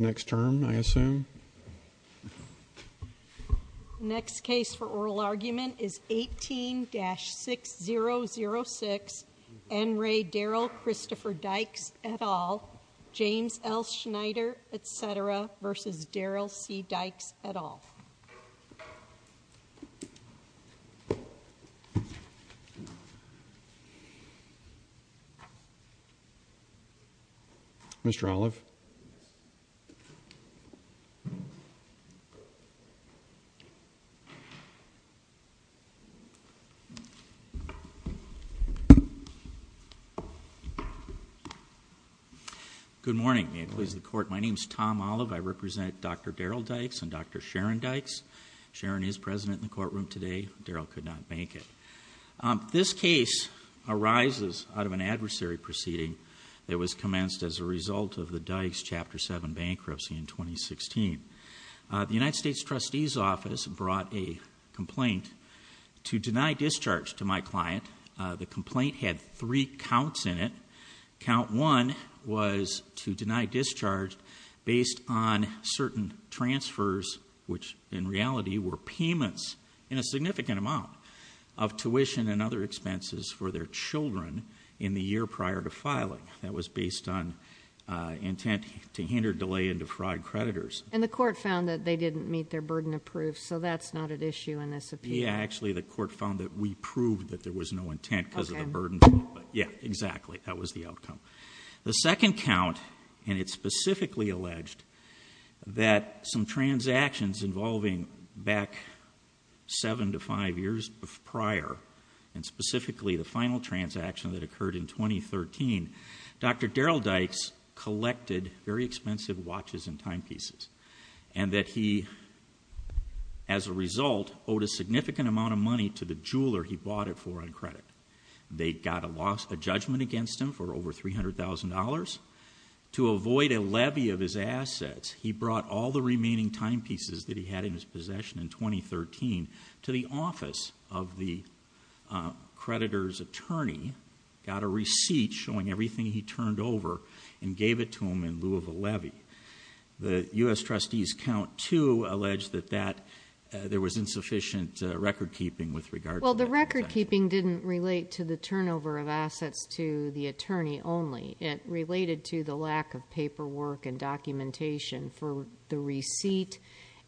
next term I assume next case for oral argument is 18-6006 N. Ray Daryll Christopher Dykes et al. James L. Snyder et cetera v. Daryll C. Dykes et al. Mr. Olive. Good morning. May it please the court. My name is Tom Olive. I represent Dr. Daryll Dykes and Dr. Sharon Dykes. Sharon is president in the courtroom today. Daryll could not make it. This case arises out of an adversary proceeding that was commenced as a result of the Dykes Chapter 7 bankruptcy in 2016. The United States Trustee's Office brought a complaint to deny discharge to my client. The complaint had three counts in it. Count one was to deny discharge based on certain transfers which in reality were payments in a significant amount of tuition and other expenses for their children in the year prior to filing. That was based on intent to hinder delay into fraud creditors. And the court found that they didn't meet their burden of proof so that's not an issue in this appeal. Yeah, actually the court found that we proved that there was no intent because of the burden. Yeah, exactly. That was the outcome. The second count and it's specifically alleged that some transactions involving back seven to five years prior and specifically the final transaction that occurred in 2013, Dr. Daryll Dykes collected very expensive watches and timepieces and that he, as a result, owed a significant amount of money to the jeweler he bought it for on credit. They got a loss, a judgment against him for over $300,000. To avoid a levy of his assets, he brought all the remaining timepieces that he had in his possession in 2013 to the office of the creditor's attorney, got a receipt showing everything he turned over and gave it to him in lieu of a levy. The U.S. Trustee's count two alleged that there was insufficient record keeping with regard to that. Well, the record keeping didn't relate to the turnover of assets to the attorney only. It related to the lack of paperwork and documentation for the receipt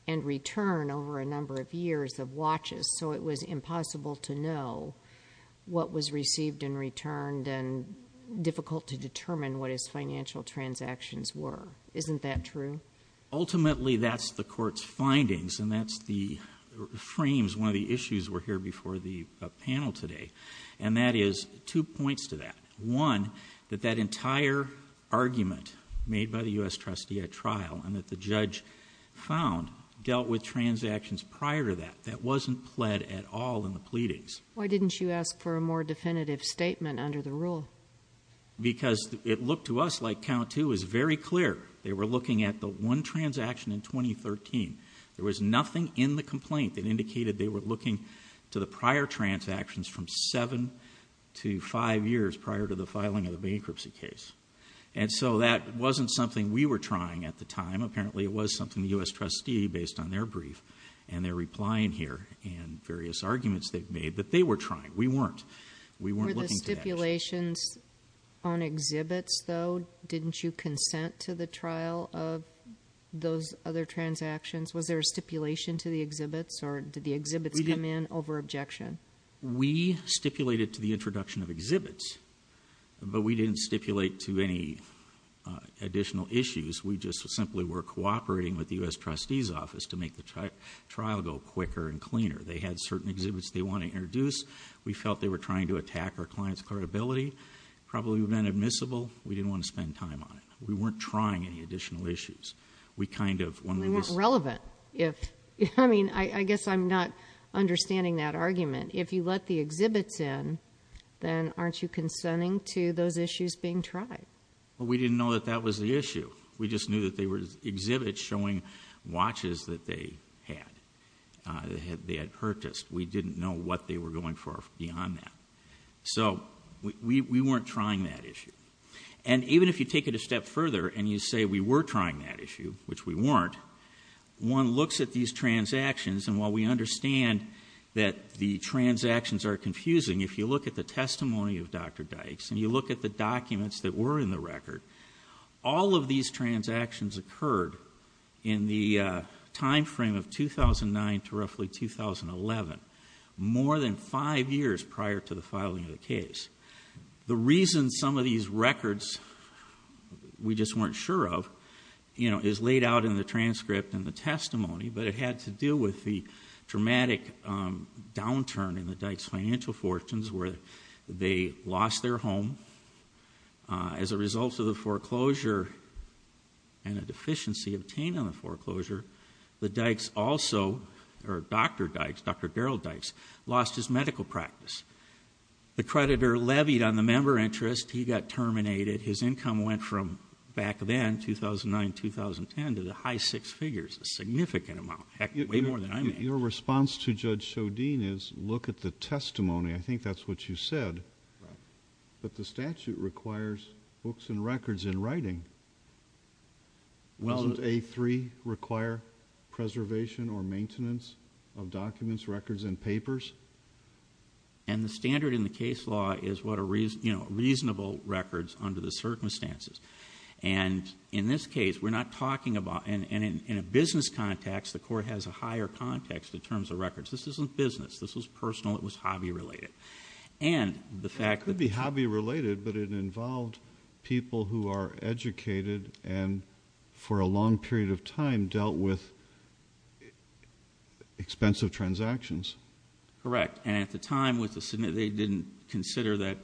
and return over a number of years of watches. So it was impossible to know what was received and returned and difficult to determine what his financial transactions were. Isn't that true? Ultimately, that's the court's findings and that's the frames. One of the issues were here before the panel today and that is two points to that. One, that that entire argument made by the U.S. Trustee at trial and that the judge found dealt with transactions prior to that, that wasn't pled at all in the pleadings. Why didn't you ask for a more definitive statement under the rule? Because it looked to us like count two was very clear. They were looking at the one transaction in 2013. There was nothing in the complaint that indicated they were looking to the prior transactions from seven to five years prior to the filing of the bankruptcy case. And so that wasn't something we were trying at the time. Apparently, it was something the U.S. Trustee based on their brief and their reply in here and various arguments they've made that they were trying. We weren't. We weren't looking to that. Were there stipulations on exhibits, though? Didn't you consent to the trial of those other transactions? Was there a stipulation to the exhibits or did the exhibits come in over objection? We stipulated to the introduction of exhibits, but we didn't stipulate to any additional issues. We just simply were cooperating with the U.S. Trustee's office to make the trial go quicker and cleaner. They had certain exhibits they wanted to introduce. We felt they were trying to attack our client's credibility. Probably would have been admissible. We didn't want to spend time on it. We weren't trying any additional issues. We kind of- I mean, it's relevant. I mean, I guess I'm not understanding that argument. If you let the exhibits in, then aren't you consenting to those issues being tried? Well, we didn't know that that was the issue. We just knew that they were exhibits showing watches that they had purchased. We didn't know what they were going for beyond that. So we weren't trying that issue. And even if you take it a step further and you say we were trying that issue, which we weren't, one looks at these transactions, and while we understand that the transactions are confusing, if you look at the testimony of Dr. Dykes and you look at the documents that were in the record, all of these transactions occurred in the time frame of 2009 to roughly 2011, more than five years prior to the filing of the case. The reason some of these records we just weren't sure of, you know, is laid out in the transcript and the testimony, but it had to do with the dramatic downturn in the Dykes' financial fortunes where they lost their home as a result of the foreclosure and a deficiency obtained on the foreclosure. The Dykes also, or Dr. Dykes, Dr. Daryl Dykes, lost his medical practice. The creditor levied on the member interest. He got terminated. His income went from back then, 2009-2010, to the high six figures, a significant amount, heck, way more than I made. Your response to Judge Shodin is look at the testimony. I think that's what you said, that the statute requires books and records in writing. Doesn't A3 require preservation or maintenance of documents, records, and papers? And the standard in the case law is what are reasonable records under the circumstances. And in this case, we're not talking about, and in a business context, the court has a higher context in terms of records. This isn't business. This was personal. It was hobby-related. It could be hobby-related, but it involved people who are educated and for a long period of time dealt with expensive transactions. Correct, and at the time, they didn't consider that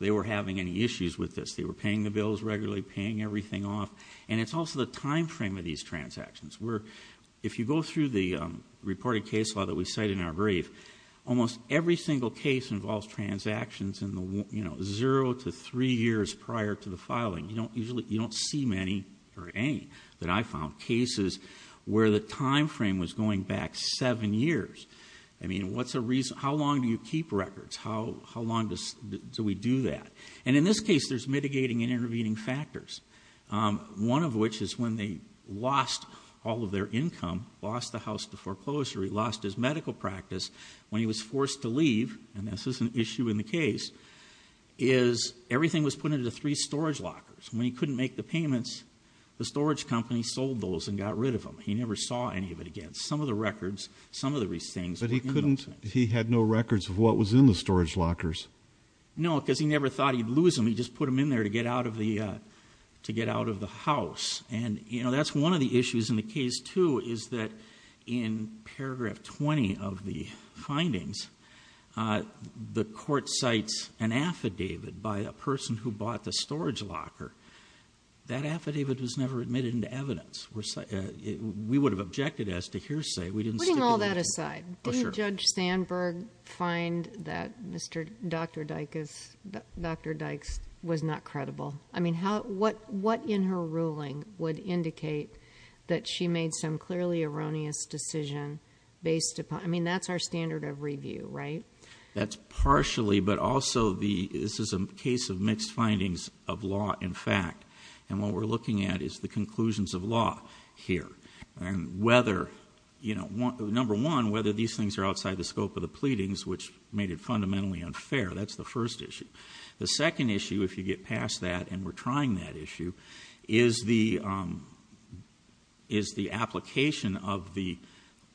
they were having any issues with this. They were paying the bills regularly, paying everything off, and it's also the time frame of these transactions. If you go through the reported case law that we cite in our brief, almost every single case involves transactions in the zero to three years prior to the filing. You don't see many, or any, that I found, cases where the time frame was going back seven years. I mean, how long do you keep records? How long do we do that? And in this case, there's mitigating and intervening factors, one of which is when they lost all of their income, lost the house to foreclosure, he lost his medical practice, when he was forced to leave, and this is an issue in the case, is everything was put into three storage lockers. When he couldn't make the payments, the storage company sold those and got rid of them. He never saw any of it again. Some of the records, some of the things were in those things. But he had no records of what was in the storage lockers. No, because he never thought he'd lose them. He just put them in there to get out of the house. And, you know, that's one of the issues in the case, too, is that in paragraph 20 of the findings, the court cites an affidavit by a person who bought the storage locker. That affidavit was never admitted into evidence. We would have objected as to hearsay. Putting all that aside, did Judge Sandberg find that Dr. Dykes was not credible? I mean, what in her ruling would indicate that she made some clearly erroneous decision based upon? I mean, that's our standard of review, right? That's partially, but also this is a case of mixed findings of law and fact. And what we're looking at is the conclusions of law here. And whether, you know, number one, whether these things are outside the scope of the pleadings, which made it fundamentally unfair. That's the first issue. The second issue, if you get past that and we're trying that issue, is the application of the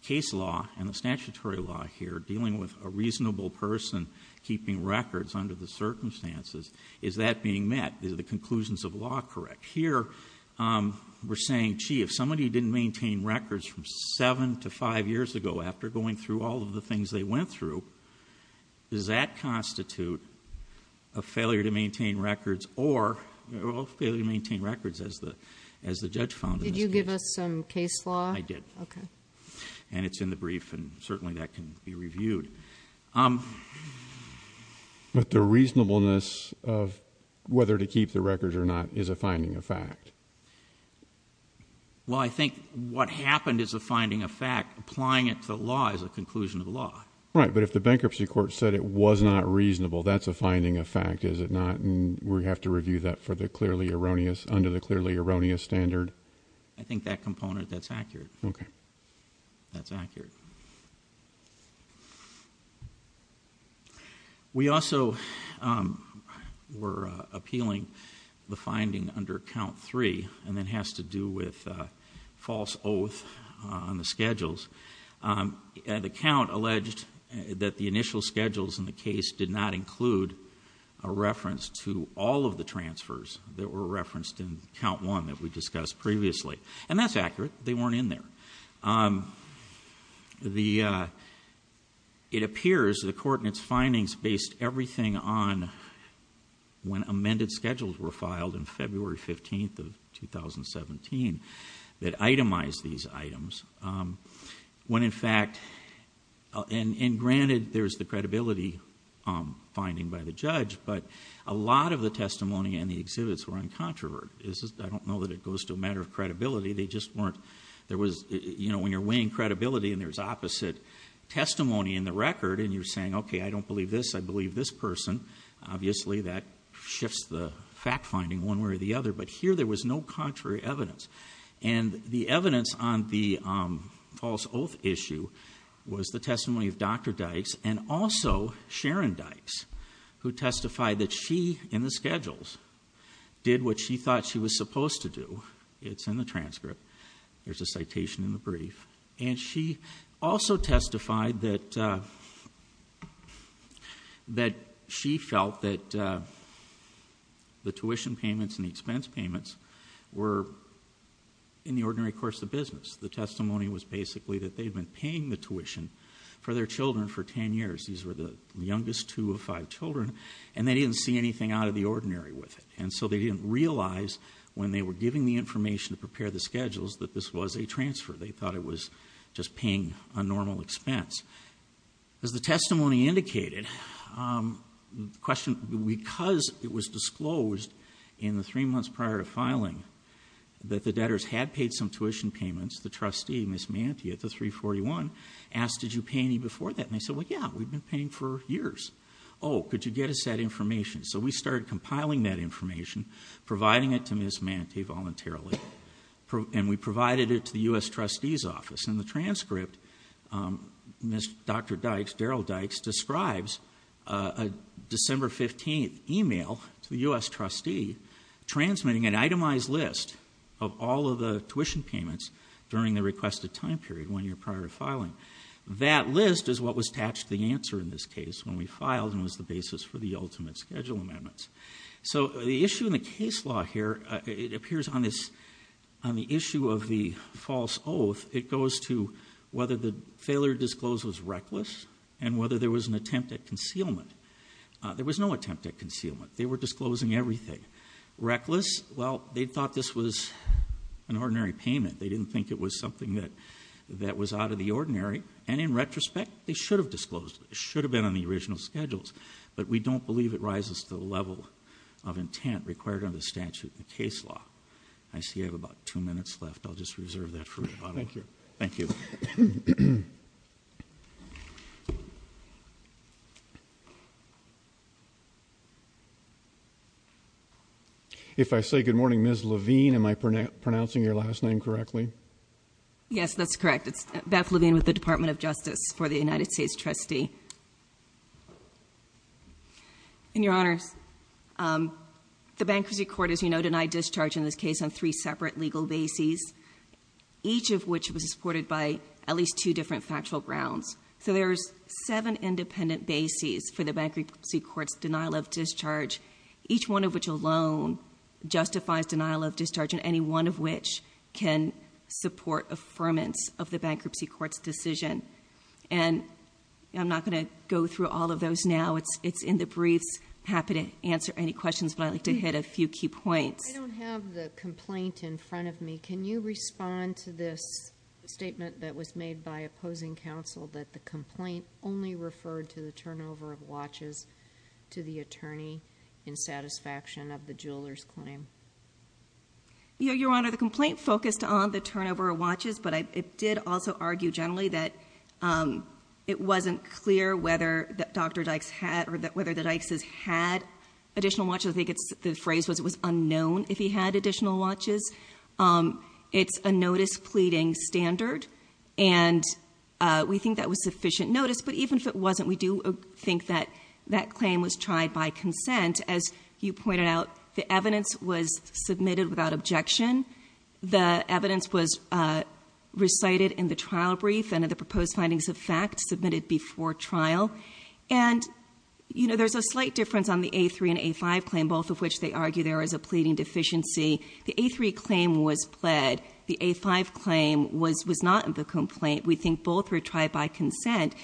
case law and the statutory law here, dealing with a reasonable person keeping records under the circumstances. Is that being met? Is the conclusions of law correct? Here we're saying, gee, if somebody didn't maintain records from seven to five years ago after going through all of the things they went through, does that constitute a failure to maintain records or a failure to maintain records, as the judge found in this case? Did you give us some case law? I did. Okay. And it's in the brief and certainly that can be reviewed. But the reasonableness of whether to keep the records or not is a finding of fact. Well, I think what happened is a finding of fact. Applying it to law is a conclusion of the law. Right. But if the bankruptcy court said it was not reasonable, that's a finding of fact, is it not? And we have to review that for the clearly erroneous, under the clearly erroneous standard? Okay. That's accurate. We also were appealing the finding under count three, and that has to do with false oath on the schedules. The count alleged that the initial schedules in the case did not include a reference to all of the transfers that were referenced in count one that we discussed previously. And that's accurate. They weren't in there. It appears the court in its findings based everything on when amended schedules were filed in February 15th of 2017 that itemized these items. When in fact, and granted there's the credibility finding by the judge, but a lot of the testimony and the exhibits were uncontroverted. I don't know that it goes to a matter of credibility. They just weren't. There was, you know, when you're weighing credibility and there's opposite testimony in the record and you're saying, okay, I don't believe this, I believe this person, obviously that shifts the fact finding one way or the other. But here there was no contrary evidence. And the evidence on the false oath issue was the testimony of Dr. Dykes and also Sharon Dykes who testified that she, in the schedules, did what she thought she was supposed to do. It's in the transcript. There's a citation in the brief. And she also testified that she felt that the tuition payments and the expense payments were in the ordinary course of business. The testimony was basically that they had been paying the tuition for their children for ten years. These were the youngest two of five children. And they didn't see anything out of the ordinary with it. And so they didn't realize when they were giving the information to prepare the schedules that this was a transfer. They thought it was just paying a normal expense. As the testimony indicated, because it was disclosed in the three months prior to filing that the debtors had paid some tuition payments, the trustee, Ms. Mantia, at the 341, asked, did you pay any before that? And they said, well, yeah, we've been paying for years. Oh, could you get us that information? So we started compiling that information, providing it to Ms. Mantia voluntarily, and we provided it to the U.S. trustee's office. In the transcript, Dr. Dykes, Daryl Dykes, describes a December 15th email to the U.S. trustee transmitting an itemized list of all of the tuition payments during the requested time period when you're prior to filing. That list is what was attached to the answer in this case when we filed and was the basis for the ultimate schedule amendments. So the issue in the case law here, it appears on the issue of the false oath, it goes to whether the failure to disclose was reckless and whether there was an attempt at concealment. There was no attempt at concealment. They were disclosing everything. Reckless, well, they thought this was an ordinary payment. They didn't think it was something that was out of the ordinary. And in retrospect, they should have disclosed it. It should have been on the original schedules, but we don't believe it rises to the level of intent required under the statute in the case law. I see I have about two minutes left. I'll just reserve that for the bottom line. Thank you. If I say good morning, Ms. Levine, am I pronouncing your last name correctly? Yes, that's correct. It's Beth Levine with the Department of Justice for the United States trustee. And, Your Honors, the bankruptcy court, as you know, denied discharge in this case on three separate legal bases, each of which was supported by at least two different factual grounds. So there's seven independent bases for the bankruptcy court's denial of discharge, each one of which alone justifies denial of discharge and any one of which can support affirmance of the bankruptcy court's decision. And I'm not going to go through all of those now. It's in the briefs. I'm happy to answer any questions, but I'd like to hit a few key points. I don't have the complaint in front of me. Can you respond to this statement that was made by opposing counsel that the complaint only referred to the turnover of watches to the attorney in satisfaction of the jeweler's claim? Your Honor, the complaint focused on the turnover of watches, but it did also argue generally that it wasn't clear whether Dr. Dykes had or whether the Dykes' had additional watches. I think the phrase was it was unknown if he had additional watches. It's a notice pleading standard, and we think that was sufficient notice. But even if it wasn't, we do think that that claim was tried by consent. As you pointed out, the evidence was submitted without objection. The evidence was recited in the trial brief and the proposed findings of fact submitted before trial. And, you know, there's a slight difference on the A3 and A5 claim, both of which they argue there is a pleading deficiency. The A3 claim was pled. The A5 claim was not the complaint. We think both were tried by consent.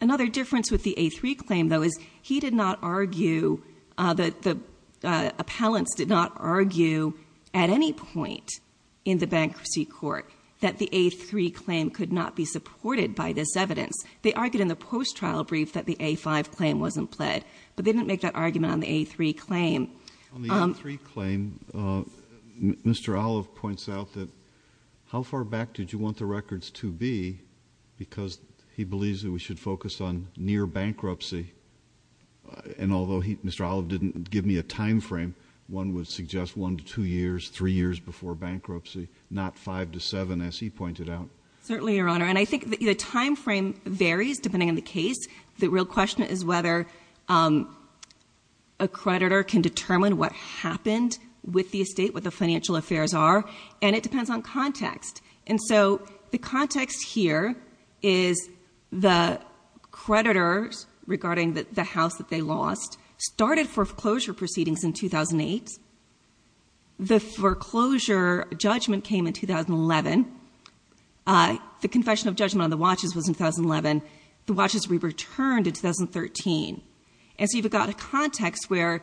Another difference with the A3 claim, though, is he did not argue, the appellants did not argue at any point in the bankruptcy court that the A3 claim could not be supported by this evidence. They argued in the post-trial brief that the A5 claim wasn't pled, but they didn't make that argument on the A3 claim. On the A3 claim, Mr. Olive points out that How far back did you want the records to be? Because he believes that we should focus on near bankruptcy. And although Mr. Olive didn't give me a time frame, one would suggest one to two years, three years before bankruptcy, not five to seven, as he pointed out. Certainly, Your Honor. And I think the time frame varies depending on the case. The real question is whether a creditor can determine what happened with the estate, what the financial affairs are. And it depends on context. And so the context here is the creditors, regarding the house that they lost, started foreclosure proceedings in 2008. The foreclosure judgment came in 2011. The confession of judgment on the watches was in 2011. The watches were returned in 2013. And so you've got a context where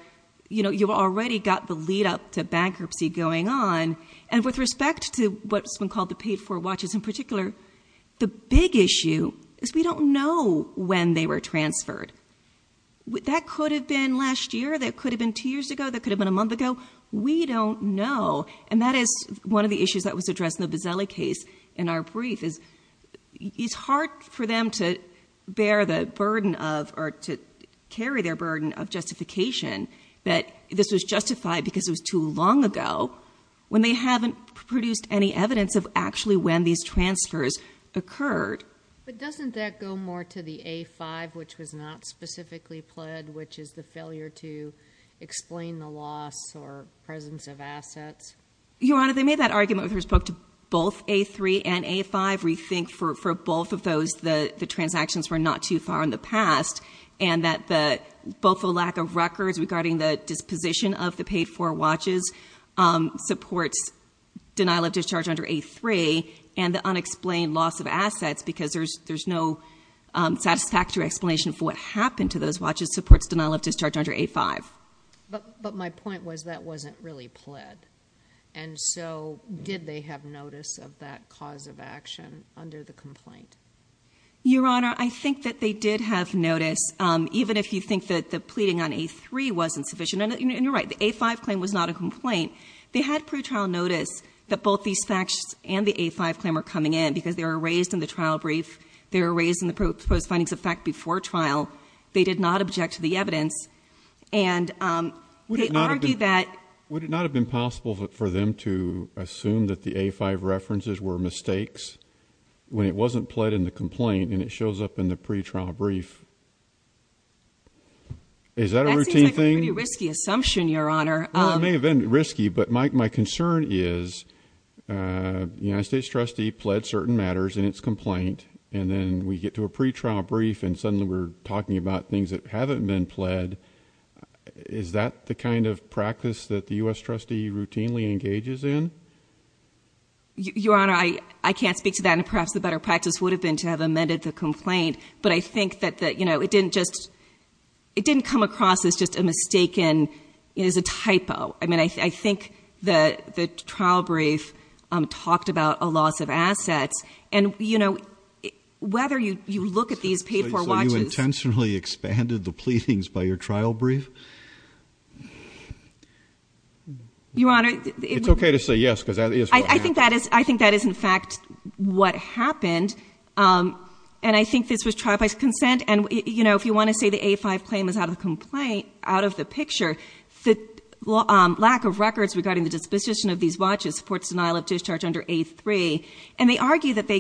you've already got the lead-up to bankruptcy going on. And with respect to what's been called the paid-for watches in particular, the big issue is we don't know when they were transferred. That could have been last year. That could have been two years ago. That could have been a month ago. We don't know. And that is one of the issues that was addressed in the Bozzelli case in our brief is it's hard for them to bear the burden of or to carry their burden of justification that this was justified because it was too long ago when they haven't produced any evidence of actually when these transfers occurred. But doesn't that go more to the A-5, which was not specifically pled, which is the failure to explain the loss or presence of assets? Your Honor, they made that argument with respect to both A-3 and A-5. We think for both of those the transactions were not too far in the past and that both the lack of records regarding the disposition of the paid-for watches supports denial of discharge under A-3 and the unexplained loss of assets because there's no satisfactory explanation for what happened to those watches supports denial of discharge under A-5. But my point was that wasn't really pled, and so did they have notice of that cause of action under the complaint? Your Honor, I think that they did have notice, even if you think that the pleading on A-3 wasn't sufficient. And you're right, the A-5 claim was not a complaint. They had pre-trial notice that both these facts and the A-5 claim were coming in because they were raised in the trial brief. They were raised in the proposed findings of fact before trial. They did not object to the evidence. And they argued that – Would it not have been possible for them to assume that the A-5 references were mistakes when it wasn't pled in the complaint and it shows up in the pre-trial brief? Is that a routine thing? That seems like a pretty risky assumption, Your Honor. Well, it may have been risky, but my concern is the United States trustee pled certain matters in its complaint, and then we get to a pre-trial brief, and suddenly we're talking about things that haven't been pled. Is that the kind of practice that the U.S. trustee routinely engages in? Your Honor, I can't speak to that, and perhaps the better practice would have been to have amended the complaint. But I think that it didn't come across as just a mistaken – as a typo. I mean, I think the trial brief talked about a loss of assets. And, you know, whether you look at these paid-for watches – So you intentionally expanded the pleadings by your trial brief? Your Honor – It's okay to say yes because that is what happened. I think that is, in fact, what happened. And I think this was trial by consent. And, you know, if you want to say the A-5 claim is out of the picture, the lack of records regarding the disposition of these watches supports denial of discharge under A-3. And they argue that they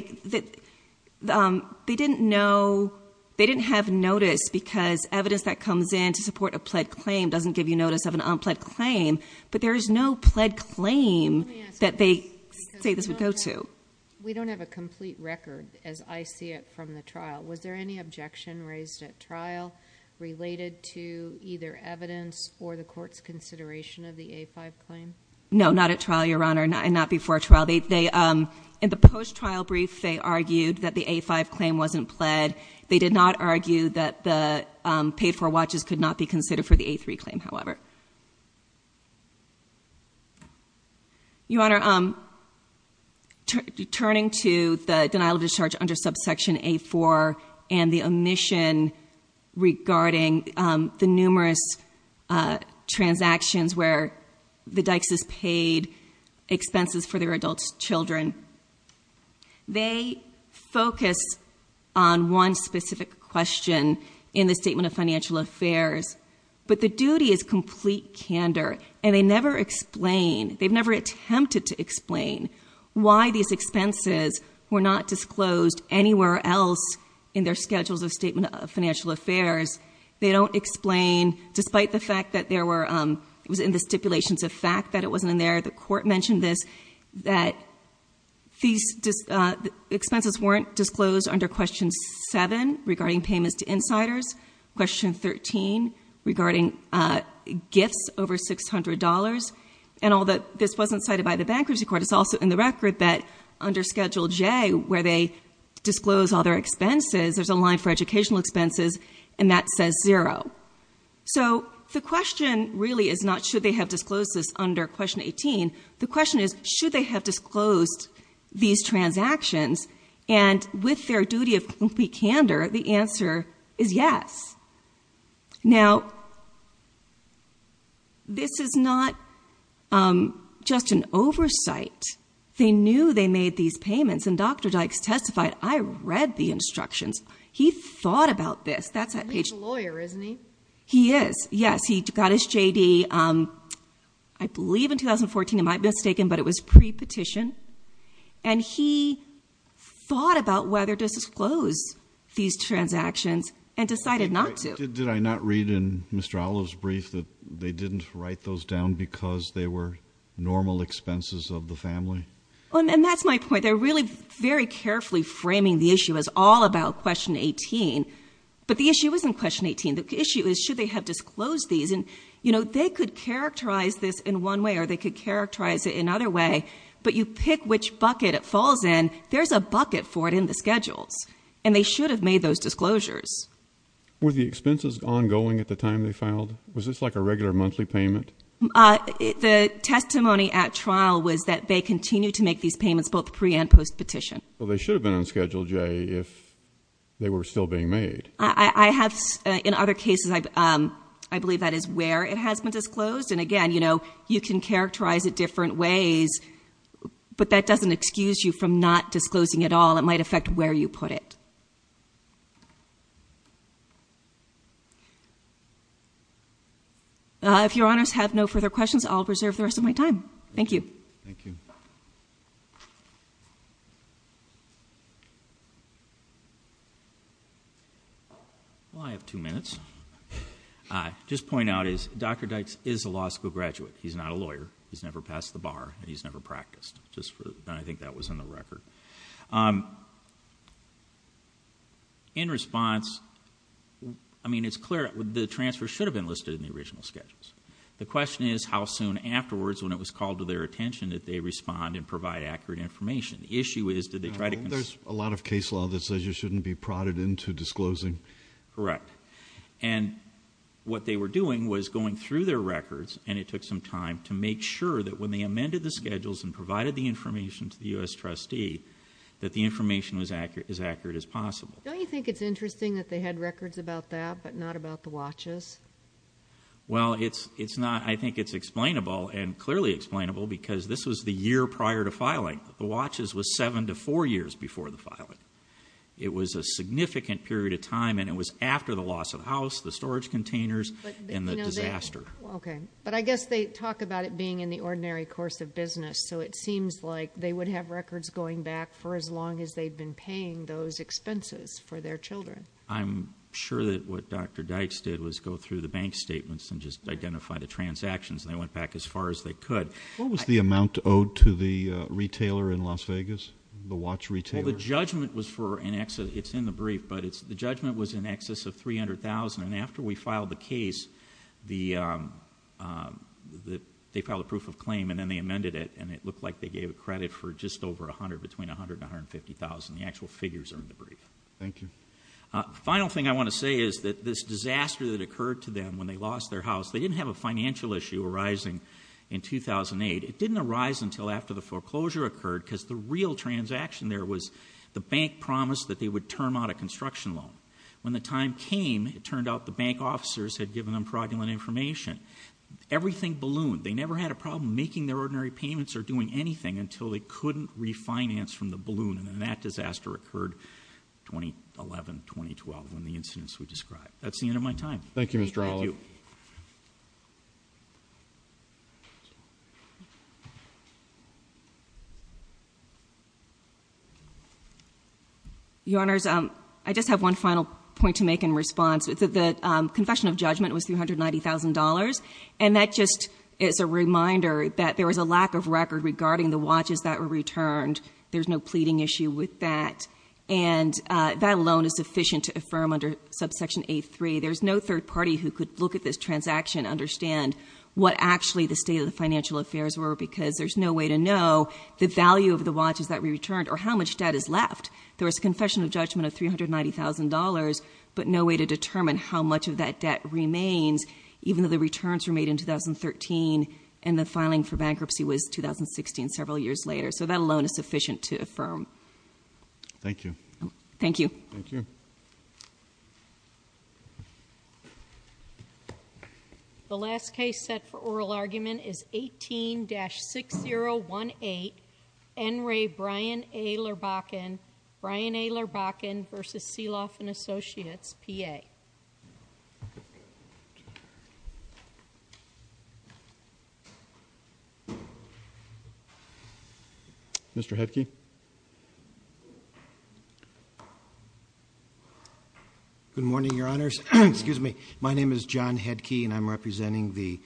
didn't have notice because evidence that comes in to support a pled claim doesn't give you notice of an unpled claim. But there is no pled claim that they say this would go to. We don't have a complete record, as I see it, from the trial. Was there any objection raised at trial related to either evidence or the Court's consideration of the A-5 claim? No, not at trial, Your Honor, and not before trial. In the post-trial brief, they argued that the A-5 claim wasn't pled. They did not argue that the paid-for watches could not be considered for the A-3 claim, however. Your Honor, turning to the denial of discharge under subsection A-4 and the omission regarding the numerous transactions where the Dykes' paid expenses for their adult children, they focus on one specific question in the Statement of Financial Affairs. But the duty is complete candor, and they never explain. They've never attempted to explain why these expenses were not disclosed anywhere else in their Schedules of Statement of Financial Affairs. They don't explain, despite the fact that there were... It was in the stipulations of fact that it wasn't in there. The Court mentioned this, that these expenses weren't disclosed under Question 7 regarding payments to insiders, Question 13 regarding gifts over $600. And although this wasn't cited by the Bankruptcy Court, it's also in the record that under Schedule J, where they disclose all their expenses, there's a line for educational expenses, and that says zero. So the question really is not, should they have disclosed this under Question 18? The question is, should they have disclosed these transactions? And with their duty of complete candor, the answer is yes. Now, this is not just an oversight. They knew they made these payments, and Dr. Dykes testified, I read the instructions. He thought about this. He's a lawyer, isn't he? He is, yes. He got his J.D., I believe in 2014, I might be mistaken, but it was pre-petition. And he thought about whether to disclose these transactions and decided not to. Did I not read in Mr. Olov's brief that they didn't write those down because they were normal expenses of the family? And that's my point. They're really very carefully framing the issue as all about Question 18. But the issue isn't Question 18. The issue is, should they have disclosed these? And, you know, they could characterize this in one way or they could characterize it in another way, but you pick which bucket it falls in, there's a bucket for it in the schedules, and they should have made those disclosures. Were the expenses ongoing at the time they filed? Was this like a regular monthly payment? The testimony at trial was that they continued to make these payments both pre- and post-petition. Well, they should have been on Schedule J if they were still being made. I have, in other cases, I believe that is where it has been disclosed. And again, you know, you can characterize it different ways, but that doesn't excuse you from not disclosing at all. It might affect where you put it. If Your Honors have no further questions, I'll reserve the rest of my time. Thank you. Well, I have two minutes. I'll just point out is Dr. Dykes is a law school graduate. He's not a lawyer. He's never passed the bar, and he's never practiced. I think that was in the record. In response, I mean, it's clear, the transfer should have been listed in the original schedules. The question is how soon afterwards, when it was called to their attention, did they respond and provide accurate information? The issue is, did they try to... There's a lot of case law that says you shouldn't be prodded into disclosing. Correct. And what they were doing was going through their records, and it took some time to make sure that when they amended the schedules and provided the information to the U.S. trustee that the information was as accurate as possible. Don't you think it's interesting that they had records about that but not about the watches? Well, it's not... I think it's explainable and clearly explainable because this was the year prior to filing. The watches was 7 to 4 years before the filing. It was a significant period of time, and it was after the loss of the house, the storage containers, and the disaster. Okay, but I guess they talk about it being in the ordinary course of business, so it seems like they would have records going back for as long as they'd been paying those expenses for their children. I'm sure that what Dr. Dykes did was go through the bank statements and just identify the transactions, and they went back as far as they could. What was the amount owed to the retailer in Las Vegas, the watch retailer? Well, the judgment was for an excess... It's in the brief, but the judgment was in excess of $300,000, and after we filed the case, they filed a proof of claim, and then they amended it, and it looked like they gave credit for just over $100,000, between $100,000 and $150,000. The actual figures are in the brief. Thank you. The final thing I want to say is that this disaster that occurred to them when they lost their house, they didn't have a financial issue arising in 2008. It didn't arise until after the foreclosure occurred, because the real transaction there was the bank promised that they would term out a construction loan. When the time came, it turned out the bank officers had given them fraudulent information. Everything ballooned. They never had a problem making their ordinary payments or doing anything until they couldn't refinance from the balloon, and then that disaster occurred 2011, 2012, in the incidents we described. That's the end of my time. Thank you, Mr. Allen. Your Honors, I just have one final point to make in response. The confession of judgment was $390,000, and that just is a reminder that there was a lack of record regarding the watches that were returned. There's no pleading issue with that, and that alone is sufficient to affirm under Subsection 8.3 there's no third party who could look at this transaction and understand what actually the state of the financial affairs were because there's no way to know the value of the watches that were returned or how much debt is left. There was a confession of judgment of $390,000, but no way to determine how much of that debt remains even though the returns were made in 2013 and the filing for bankruptcy was 2016, several years later. So that alone is sufficient to affirm. Thank you. Thank you. Thank you. The last case set for oral argument is 18-6018, N. Ray Bryan A. Lurbachan, Bryan A. Lurbachan v. Seloff & Associates, P.A. Thank you. Mr. Headke. Good morning, Your Honors. Excuse me. My name is John Headke, and I'm representing the...